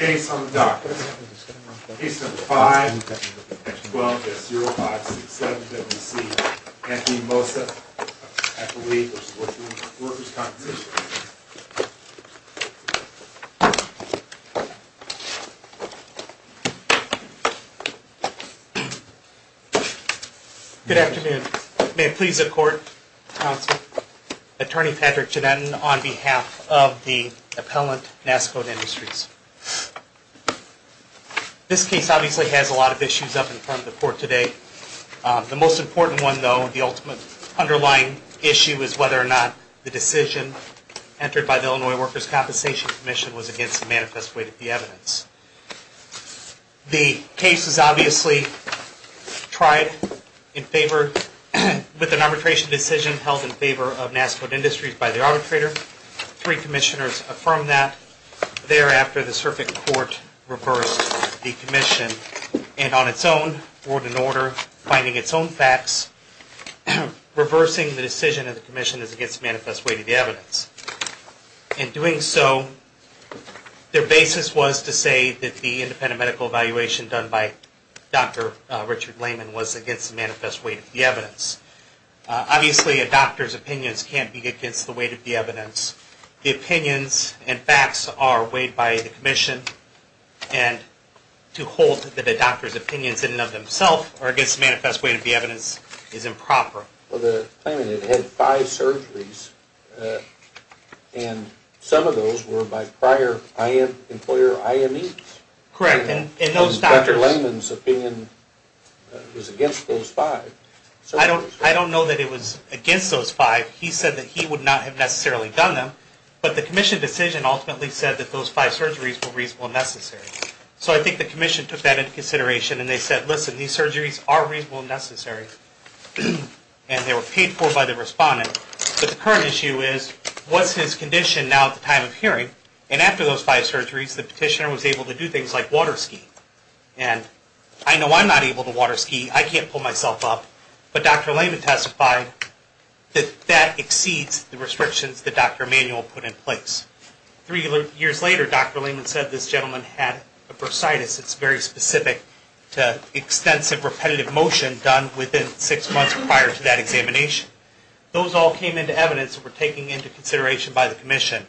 Case on the docket, case number 5, section 12-0567-WC, Anthony Mossa v. Workers' Compensation. Good afternoon. May it please the court, counsel. Attorney Patrick Giannetta on behalf of the appellant, Nascode Industries. This case obviously has a lot of issues up in front of the court today. The most important one, though, the ultimate underlying issue is whether or not the decision entered by the Illinois Workers' Compensation Commission was against the manifest weight of the evidence. The case is obviously tried with an arbitration decision held in favor of Nascode Industries by the arbitrator. Three commissioners affirmed that. Thereafter, the circuit court reversed the commission, and on its own, word and order, finding its own facts, reversing the decision of the commission as against the manifest weight of the evidence. In doing so, their basis was to say that the independent medical evaluation done by Dr. Richard Lehman was against the manifest weight of the evidence. Obviously, a doctor's opinions can't be against the weight of the evidence. The opinions and facts are weighed by the commission, and to hold that the doctor's opinions in and of themselves are against the manifest weight of the evidence is improper. Well, the claimant had had five surgeries, and some of those were by prior employer IMEs. Correct. And Dr. Lehman's opinion was against those five. I don't know that it was against those five. He said that he would not have necessarily done them, but the commission decision ultimately said that those five surgeries were reasonable and necessary. So I think the commission took that into consideration, and they said, listen, these surgeries are reasonable and necessary. And they were paid for by the respondent. But the current issue is, what's his condition now at the time of hearing? And after those five surgeries, the petitioner was able to do things like water ski. And I know I'm not able to water ski. I can't pull myself up. But Dr. Lehman testified that that exceeds the restrictions that Dr. Emanuel put in place. Three years later, Dr. Lehman said this gentleman had a bursitis. It's very specific to extensive repetitive motion done within six months prior to that examination. Those all came into evidence that were taken into consideration by the commission,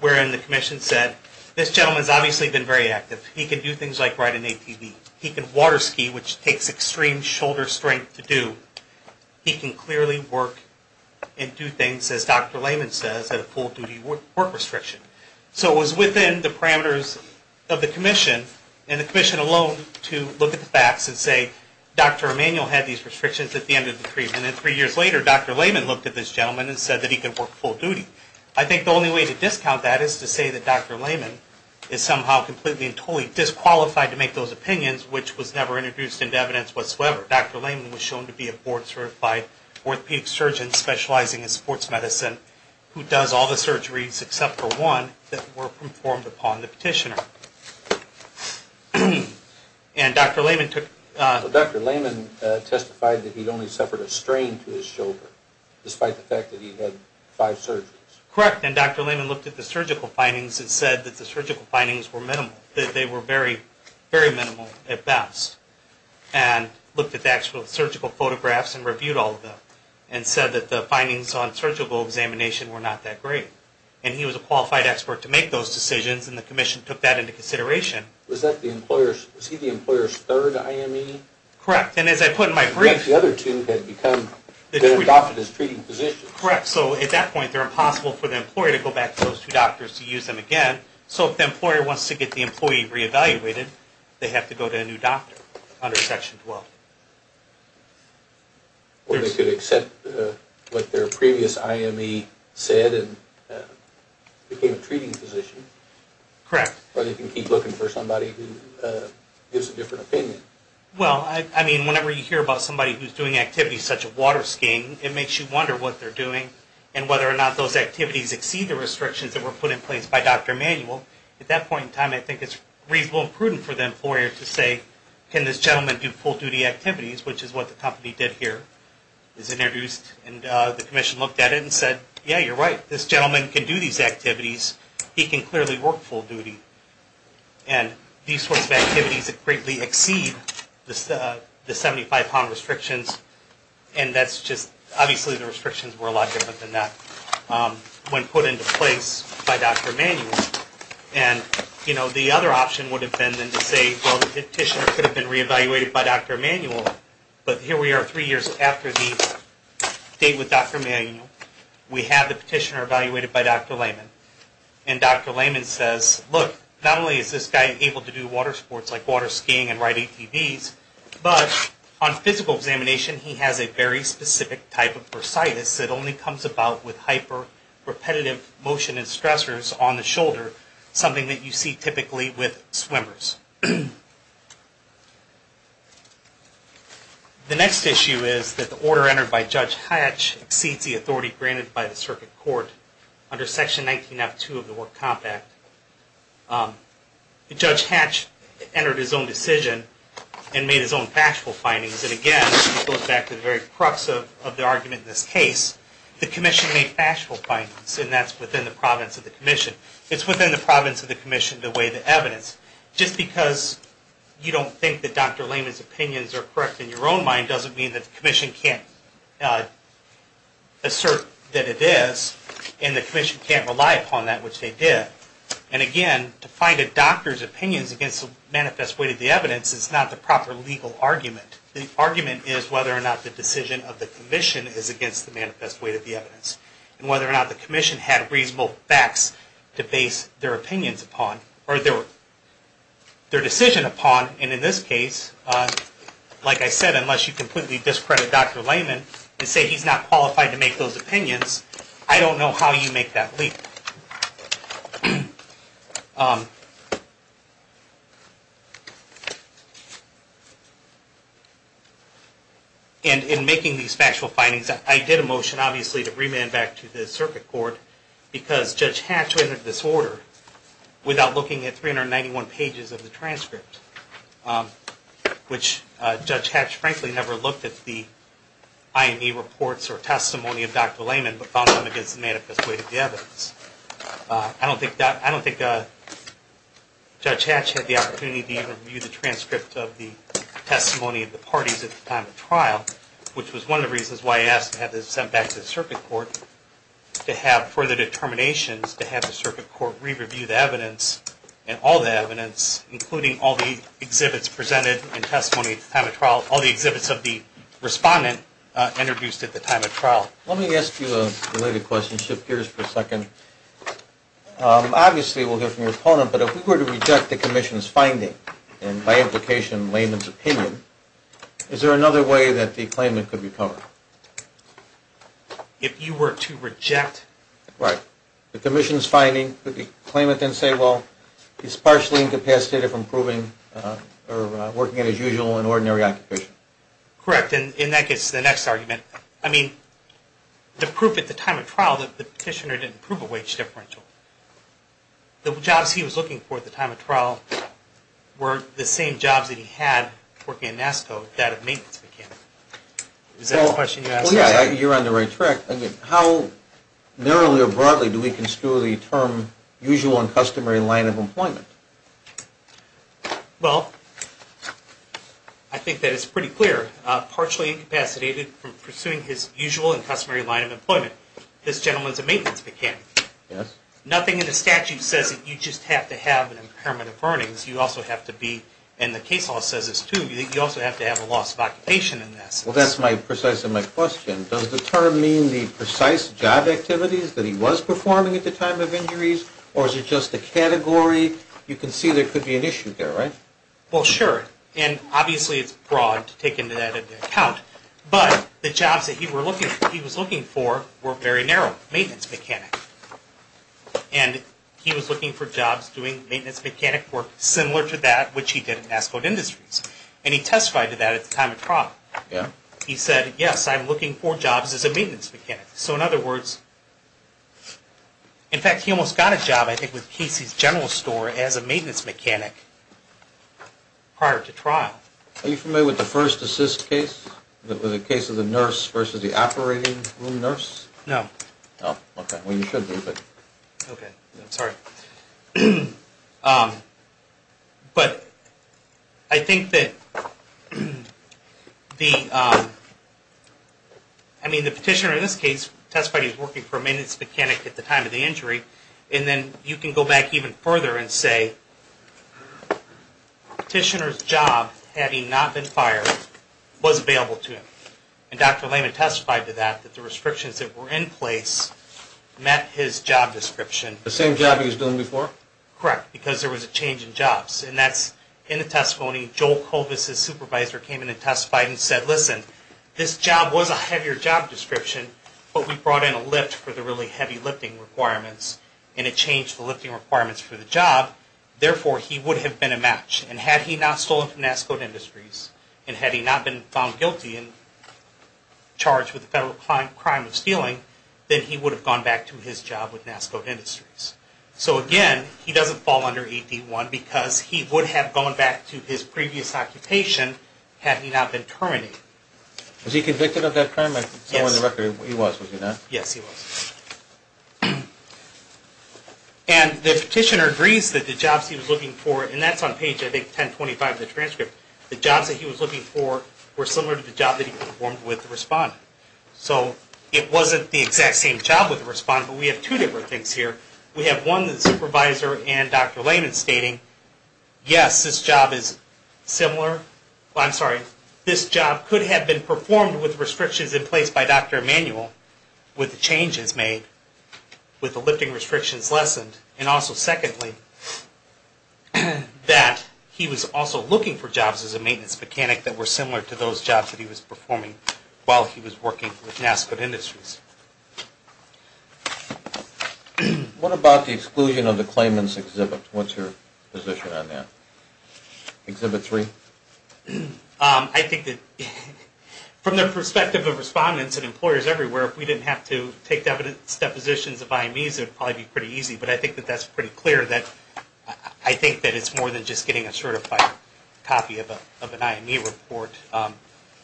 wherein the commission said, this gentleman's obviously been very active. He can do things like ride an ATV. He can water ski, which takes extreme shoulder strength to do. He can clearly work and do things, as Dr. Lehman says, at a full-duty work restriction. So it was within the parameters of the commission, and the commission alone, to look at the facts and say, Dr. Emanuel had these restrictions at the end of the treatment. And then three years later, Dr. Lehman looked at this gentleman and said that he could work full duty. I think the only way to discount that is to say that Dr. Lehman is somehow completely and totally disqualified to make those opinions, which was never introduced into evidence whatsoever. Dr. Lehman was shown to be a board-certified orthopedic surgeon specializing in sports medicine who does all the surgeries except for one that were performed upon the petitioner. And Dr. Lehman took... Well, Dr. Lehman testified that he'd only suffered a strain to his shoulder, despite the fact that he had five surgeries. Correct, and Dr. Lehman looked at the surgical findings and said that the surgical findings were minimal, that they were very, very minimal at best, and looked at the actual surgical photographs and reviewed all of them, and said that the findings on surgical examination were not that great. And he was a qualified expert to make those decisions, and the commission took that into consideration. Was he the employer's third IME? Correct, and as I put in my brief... The other two had been adopted as treating physicians. Correct, so at that point, they're impossible for the employer to go back to those two doctors to use them again. So if the employer wants to get the employee reevaluated, they have to go to a new doctor under Section 12. Or they could accept what their previous IME said and became a treating physician. Correct. Or they can keep looking for somebody who gives a different opinion. Well, I mean, whenever you hear about somebody who's doing activities such as water skiing, it makes you wonder what they're doing and whether or not those activities exceed the restrictions that were put in place by Dr. Emanuel. At that point in time, I think it's reasonable and prudent for the employer to say, can this gentleman do full-duty activities, which is what the company did here. It was introduced, and the commission looked at it and said, yeah, you're right. This gentleman can do these activities. He can clearly work full duty. And these sorts of activities greatly exceed the 75-pound restrictions, and that's just... Obviously, the restrictions were a lot different than that. When put into place by Dr. Emanuel. And, you know, the other option would have been then to say, well, the petitioner could have been reevaluated by Dr. Emanuel, but here we are three years after the date with Dr. Emanuel. We have the petitioner evaluated by Dr. Lehman. And Dr. Lehman says, look, not only is this guy able to do water sports like water skiing and ride ATVs, but on physical examination, he has a very specific type of bursitis that only comes about with hyper-repetitive motion and stressors on the shoulder, something that you see typically with swimmers. The next issue is that the order entered by Judge Hatch exceeds the authority granted by the circuit court under Section 19F2 of the War Compact. Judge Hatch entered his own decision and made his own factual findings, because it, again, goes back to the very crux of the argument in this case. The commission made factual findings, and that's within the province of the commission. It's within the province of the commission to weigh the evidence. Just because you don't think that Dr. Lehman's opinions are correct in your own mind doesn't mean that the commission can't assert that it is, and the commission can't rely upon that, which they did. And, again, to find a doctor's opinions against the manifest weight of the evidence is not the proper legal argument. The argument is whether or not the decision of the commission is against the manifest weight of the evidence, and whether or not the commission had reasonable facts to base their opinions upon or their decision upon, and in this case, like I said, unless you completely discredit Dr. Lehman and say he's not qualified to make those opinions, I don't know how you make that leap. And in making these factual findings, I did a motion, obviously, to remand back to the circuit court, because Judge Hatch rendered this order without looking at 391 pages of the transcript, which Judge Hatch, frankly, never looked at the IME reports or testimony of Dr. Lehman, but found them against the manifest weight of the evidence. I don't think Judge Hatch had the opportunity to even review the transcript of the testimony of the parties at the time of trial, which was one of the reasons why I asked to have this sent back to the circuit court, to have further determinations to have the circuit court re-review the evidence, and all the evidence, including all the exhibits presented in testimony at the time of trial, Let me ask you a related question, shift gears for a second. Obviously, we'll hear from your opponent, but if we were to reject the commission's finding, and by implication, Lehman's opinion, is there another way that the claimant could be covered? If you were to reject? Right. The commission's finding, could the claimant then say, well, he's partially incapacitated from proving or working as usual in ordinary occupation? Correct. And that gets to the next argument. I mean, the proof at the time of trial that the petitioner didn't prove a wage differential. The jobs he was looking for at the time of trial were the same jobs that he had working at NASCO, that of maintenance mechanic. Is that the question you're asking? Well, yeah, you're on the right track. How narrowly or broadly do we construe the term usual and customary line of employment? Well, I think that it's pretty clear. Partially incapacitated from pursuing his usual and customary line of employment. This gentleman's a maintenance mechanic. Yes. Nothing in the statute says that you just have to have an impairment of earnings. You also have to be, and the case law says this too, you also have to have a loss of occupation in this. Well, that's precisely my question. Does the term mean the precise job activities that he was performing at the time of injuries, or is it just a category? You can see there could be an issue there, right? Well, sure, and obviously it's broad to take into account. But the jobs that he was looking for were very narrow, maintenance mechanic. And he was looking for jobs doing maintenance mechanic work similar to that which he did at NASCO Industries. And he testified to that at the time of trial. He said, yes, I'm looking for jobs as a maintenance mechanic. So, in other words, in fact, he almost got a job, I think, with Casey's General Store as a maintenance mechanic prior to trial. Are you familiar with the first assist case, the case of the nurse versus the operating room nurse? No. Oh, okay. Well, you should be, but... Okay. I'm sorry. But I think that the, I mean, the petitioner in this case testified he was working for a maintenance mechanic at the time of the injury. And then you can go back even further and say, petitioner's job, had he not been fired, was available to him. And Dr. Lehman testified to that, that the restrictions that were in place met his job description. The same job he was doing before? Correct. Because there was a change in jobs. And that's in the testimony. Joel Kovas, his supervisor, came in and testified and said, listen, this job was a heavier job description, but we brought in a lift for the really heavy lifting requirements, and it changed the lifting requirements for the job. Therefore, he would have been a match. And had he not stolen from NASCO Industries, and had he not been found guilty and charged with a federal crime of stealing, then he would have gone back to his job with NASCO Industries. So, again, he doesn't fall under AD-1 because he would have gone back to his previous occupation had he not been terminated. Was he convicted of that crime? Yes. So on the record, he was, was he not? Yes, he was. And the petitioner agrees that the jobs he was looking for, and that's on page, I think, 1025 of the transcript, the jobs that he was looking for were similar to the job that he performed with the respondent. So it wasn't the exact same job with the respondent, but we have two different things here. We have one that the supervisor and Dr. Lehman stating, yes, this job is similar, well, I'm sorry, this job could have been performed with restrictions in place by Dr. Emanuel with the changes made, with the lifting restrictions lessened. And also, secondly, that he was also looking for jobs as a maintenance mechanic that were similar to those jobs that he was performing while he was working with NASCOT Industries. What about the exclusion of the claimant's exhibit? What's your position on that? Exhibit 3? I think that from the perspective of respondents and employers everywhere, if we didn't have to take depositions of IMEs, it would probably be pretty easy. But I think that that's pretty clear that I think that it's more than just getting a certified copy of an IME report.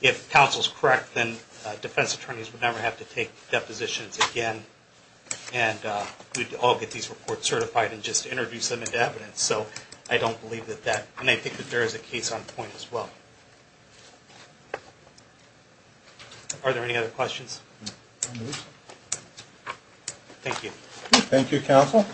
If counsel's correct, then defense attorneys would never have to take depositions again, and we'd all get these reports certified and just introduce them into evidence. So I don't believe that that, and I think that there is a case on point as well. Are there any other questions? Thank you. Thank you, counsel.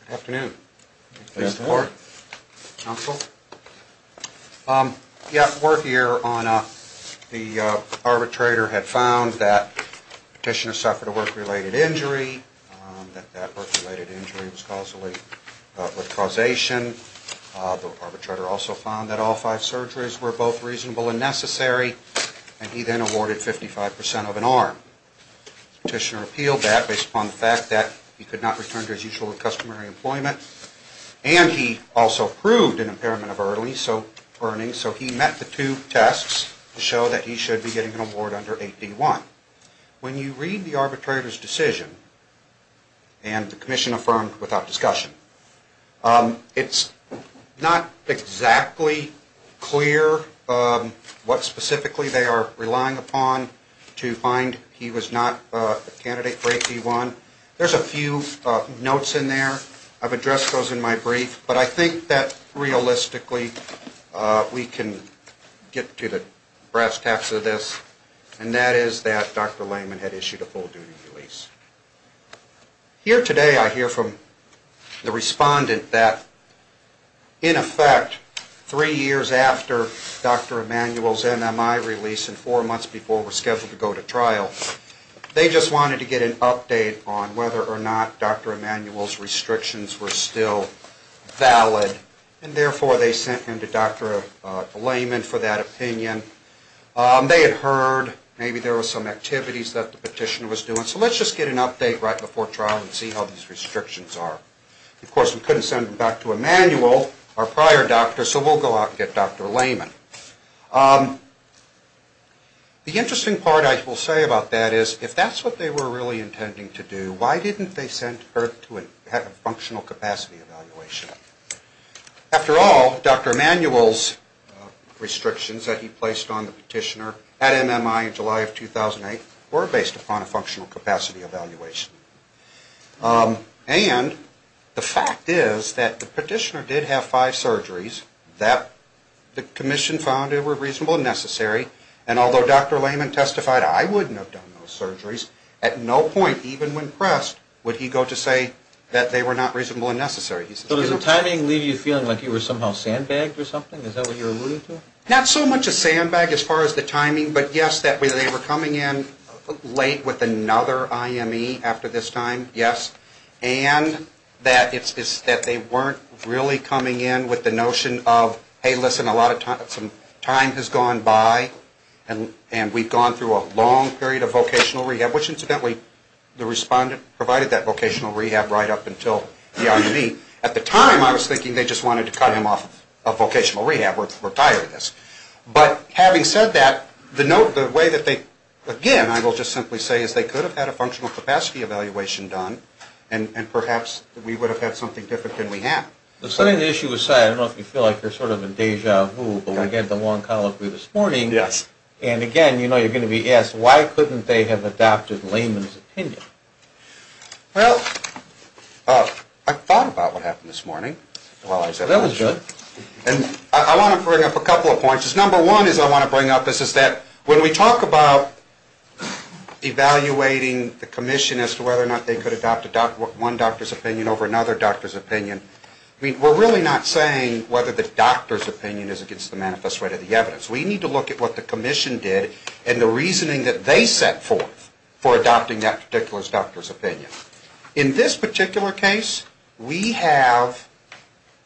Good afternoon. Thanks for the report. Counsel? Yeah, we're here on the arbitrator had found that petitioner suffered a work-related injury, that that work-related injury was causally with causation. The arbitrator also found that all five surgeries were both reasonable and necessary, and he then awarded 55% of an arm. Petitioner appealed that based upon the fact that he could not return to his usual customary employment, and he also proved an impairment of earnings, so he met the two tests to show that he should be getting an award under 8D1. When you read the arbitrator's decision, and the commission affirmed without discussion, it's not exactly clear what specifically they are relying upon to find he was not a candidate for 8D1. There's a few notes in there. I've addressed those in my brief, but I think that realistically we can get to the brass tacks of this, and that is that Dr. Lehman had issued a full-duty release. Here today I hear from the respondent that, in effect, three years after Dr. Emanuel's NMI release and four months before we're scheduled to go to trial, they just wanted to get an update on whether or not Dr. Emanuel's restrictions were still valid, and therefore they sent him to Dr. Lehman for that opinion. They had heard maybe there were some activities that the petitioner was doing, so let's just get an update right before trial and see how these restrictions are. Of course, we couldn't send him back to Emanuel, our prior doctor, so we'll go out and get Dr. Lehman. The interesting part I will say about that is, if that's what they were really intending to do, why didn't they send her to have a functional capacity evaluation? After all, Dr. Emanuel's restrictions that he placed on the petitioner at NMI in July of 2008 were based upon a functional capacity evaluation, and the fact is that the petitioner did have five surgeries that the commission found were reasonable and necessary, and although Dr. Lehman testified, I wouldn't have done those surgeries, at no point, even when pressed, would he go to say that they were not reasonable and necessary. So does the timing leave you feeling like you were somehow sandbagged or something? Is that what you're alluding to? Not so much a sandbag as far as the timing, but yes, that they were coming in late with another IME after this time, yes, and that they weren't really coming in with the notion of, hey, listen, a lot of time has gone by, and we've gone through a long period of vocational rehab, which incidentally the respondent provided that vocational rehab right up until the IME. At the time, I was thinking they just wanted to cut him off of vocational rehab. We're tired of this. But having said that, the way that they, again, I will just simply say, is they could have had a functional capacity evaluation done, and perhaps we would have had something different than we have. Setting the issue aside, I don't know if you feel like you're sort of in deja vu, but we had the long convo this morning, and again, you know, you're going to be asked, why couldn't they have adopted Lehman's opinion? Well, I thought about what happened this morning. That was good. I want to bring up a couple of points. Number one is I want to bring up is that when we talk about evaluating the commission as to whether or not they could adopt one doctor's opinion over another doctor's opinion, we're really not saying whether the doctor's opinion is against the manifest right of the evidence. We need to look at what the commission did and the reasoning that they set forth for adopting that particular doctor's opinion. In this particular case, we have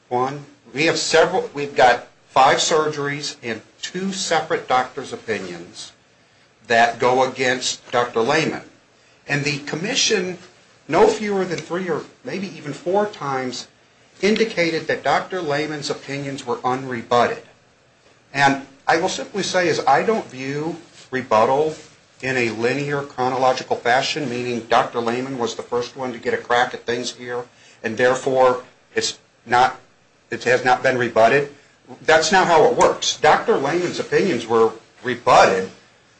one, we have several, we've got five surgeries and two separate doctor's opinions that go against Dr. Lehman. And the commission, no fewer than three or maybe even four times, indicated that Dr. Lehman's opinions were unrebutted. And I will simply say is I don't view rebuttal in a linear chronological fashion, meaning Dr. Lehman was the first one to get a crack at things here, and therefore it has not been rebutted. That's not how it works. Dr. Lehman's opinions were rebutted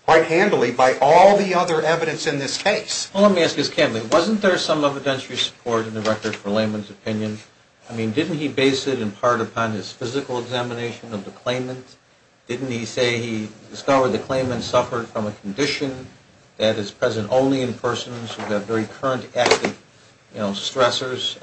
quite handily by all the other evidence in this case. Well, let me ask this candidly. Wasn't there some evidentiary support in the record for Lehman's opinion? I mean, didn't he base it in part upon his physical examination of the claimant? Didn't he say he discovered the claimant suffered from a condition that is present only in persons who have very current active stressors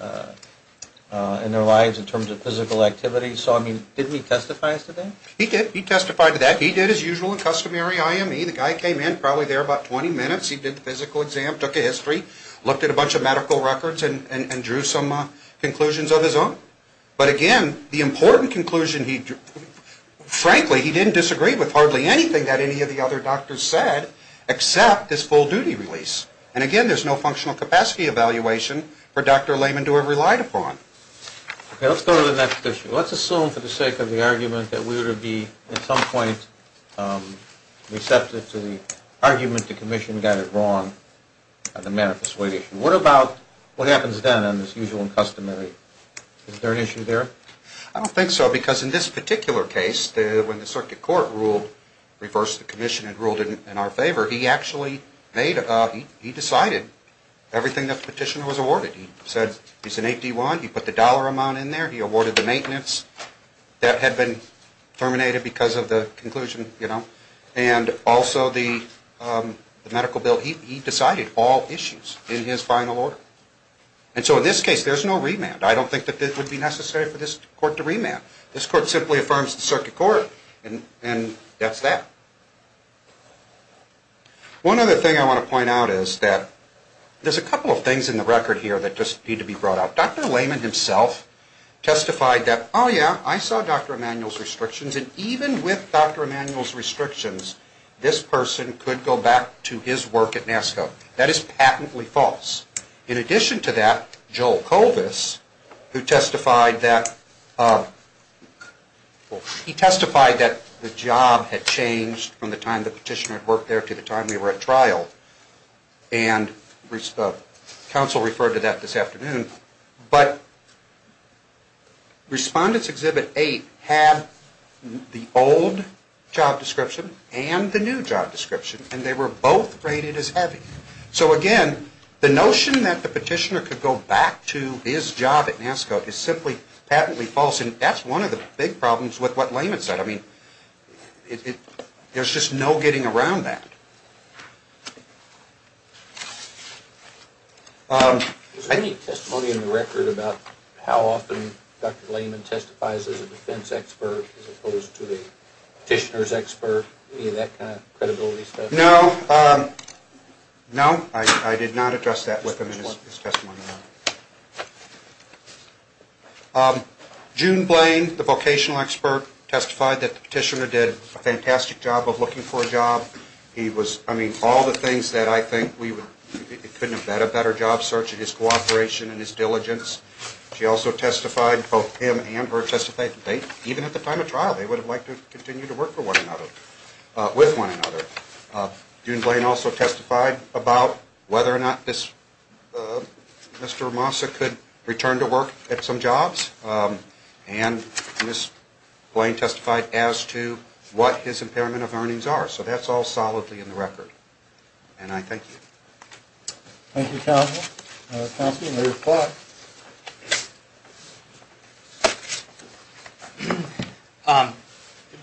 in their lives in terms of physical activity? So, I mean, didn't he testify to that? He did. He testified to that. He did his usual and customary IME. The guy came in probably there about 20 minutes. He did the physical exam, took a history, looked at a bunch of medical records and drew some conclusions of his own. But, again, the important conclusion he drew, frankly, he didn't disagree with hardly anything that any of the other doctors said except this full-duty release. And, again, there's no functional capacity evaluation for Dr. Lehman to have relied upon. Okay, let's go to the next issue. Let's assume for the sake of the argument that we would be at some point receptive to the argument that the commission got it wrong on the manifest weight issue. What about what happens then on this usual and customary? Is there an issue there? I don't think so because in this particular case, when the circuit court ruled, reversed the commission and ruled in our favor, he actually made, he decided everything that the petitioner was awarded. He said he's an 8D1. He put the dollar amount in there. He awarded the maintenance. That had been terminated because of the conclusion, you know. And also the medical bill. He decided all issues in his final order. And so in this case, there's no remand. I don't think that it would be necessary for this court to remand. This court simply affirms the circuit court, and that's that. One other thing I want to point out is that there's a couple of things in the record here that just need to be brought up. Dr. Lehman himself testified that, oh, yeah, I saw Dr. Emanuel's restrictions, and even with Dr. Emanuel's restrictions, this person could go back to his work at NASCO. That is patently false. In addition to that, Joel Colvis, who testified that, well, he testified that the job had changed from the time the petitioner had worked there to the time we were at trial. And counsel referred to that this afternoon. But Respondents Exhibit 8 had the old job description and the new job description, and they were both rated as heavy. So, again, the notion that the petitioner could go back to his job at NASCO is simply patently false, and that's one of the big problems with what Lehman said. I mean, there's just no getting around that. Is there any testimony in the record about how often Dr. Lehman testifies as a defense expert as opposed to the petitioner's expert, any of that kind of credibility stuff? No. No, I did not address that with him in his testimony. June Blaine, the vocational expert, testified that the petitioner did a fantastic job of looking for a job. I mean, all the things that I think we couldn't have had a better job search in his cooperation and his diligence. She also testified, both him and her, testified that even at the time of trial, they would have liked to continue to work with one another. June Blaine also testified about whether or not Mr. Ramosa could return to work at some jobs, and Ms. Blaine testified as to what his impairment of earnings are. So that's all solidly in the record, and I thank you. Thank you, Counsel. Counsel, you may reply.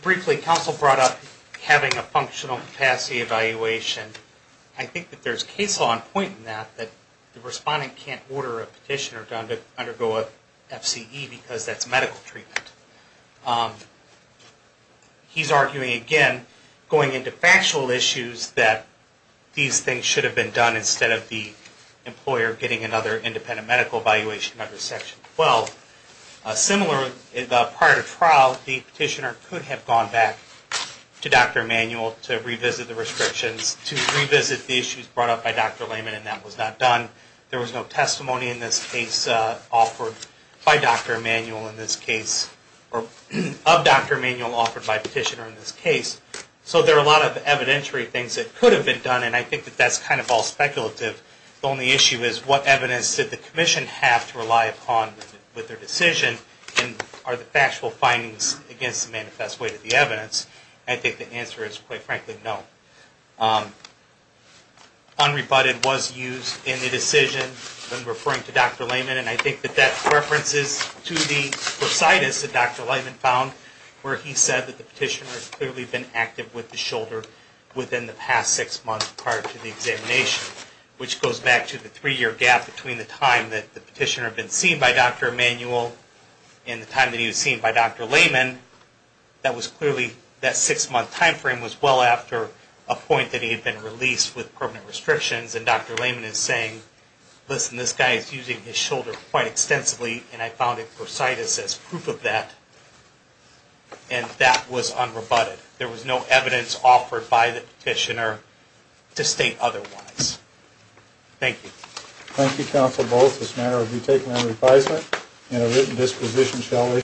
Briefly, Counsel brought up having a functional capacity evaluation. I think that there's case law in point in that, that the respondent can't order a petitioner to undergo an FCE because that's medical treatment. He's arguing, again, going into factual issues that these things should have been done instead of the employer getting another independent medical evaluation under Section 12. Similar, prior to trial, the petitioner could have gone back to Dr. Emanuel to revisit the restrictions, to revisit the issues brought up by Dr. Lehman, and that was not done. There was no testimony in this case offered by Dr. Emanuel in this case, or of Dr. Emanuel offered by a petitioner in this case. So there are a lot of evidentiary things that could have been done, and I think that that's kind of all speculative. The only issue is what evidence did the Commission have to rely upon with their decision, and are the factual findings against the manifest way to the evidence? I think the answer is, quite frankly, no. Unrebutted was used in the decision when referring to Dr. Lehman, and I think that that references to the prosidus that Dr. Lehman found where he said that the petitioner had clearly been active with the shoulder within the past six months prior to the examination, which goes back to the three-year gap between the time that the petitioner had been seen by Dr. Emanuel and the time that he was seen by Dr. Lehman. That was clearly, that six-month time frame was well after a point that he had been released with permanent restrictions, and Dr. Lehman is saying, listen, this guy is using his shoulder quite extensively, and I found a prosidus as proof of that, and that was unrebutted. There was no evidence offered by the petitioner to state otherwise. Thank you. Thank you, Counsel Bowles. This matter will be taken under advisement, and a written disposition, shall we?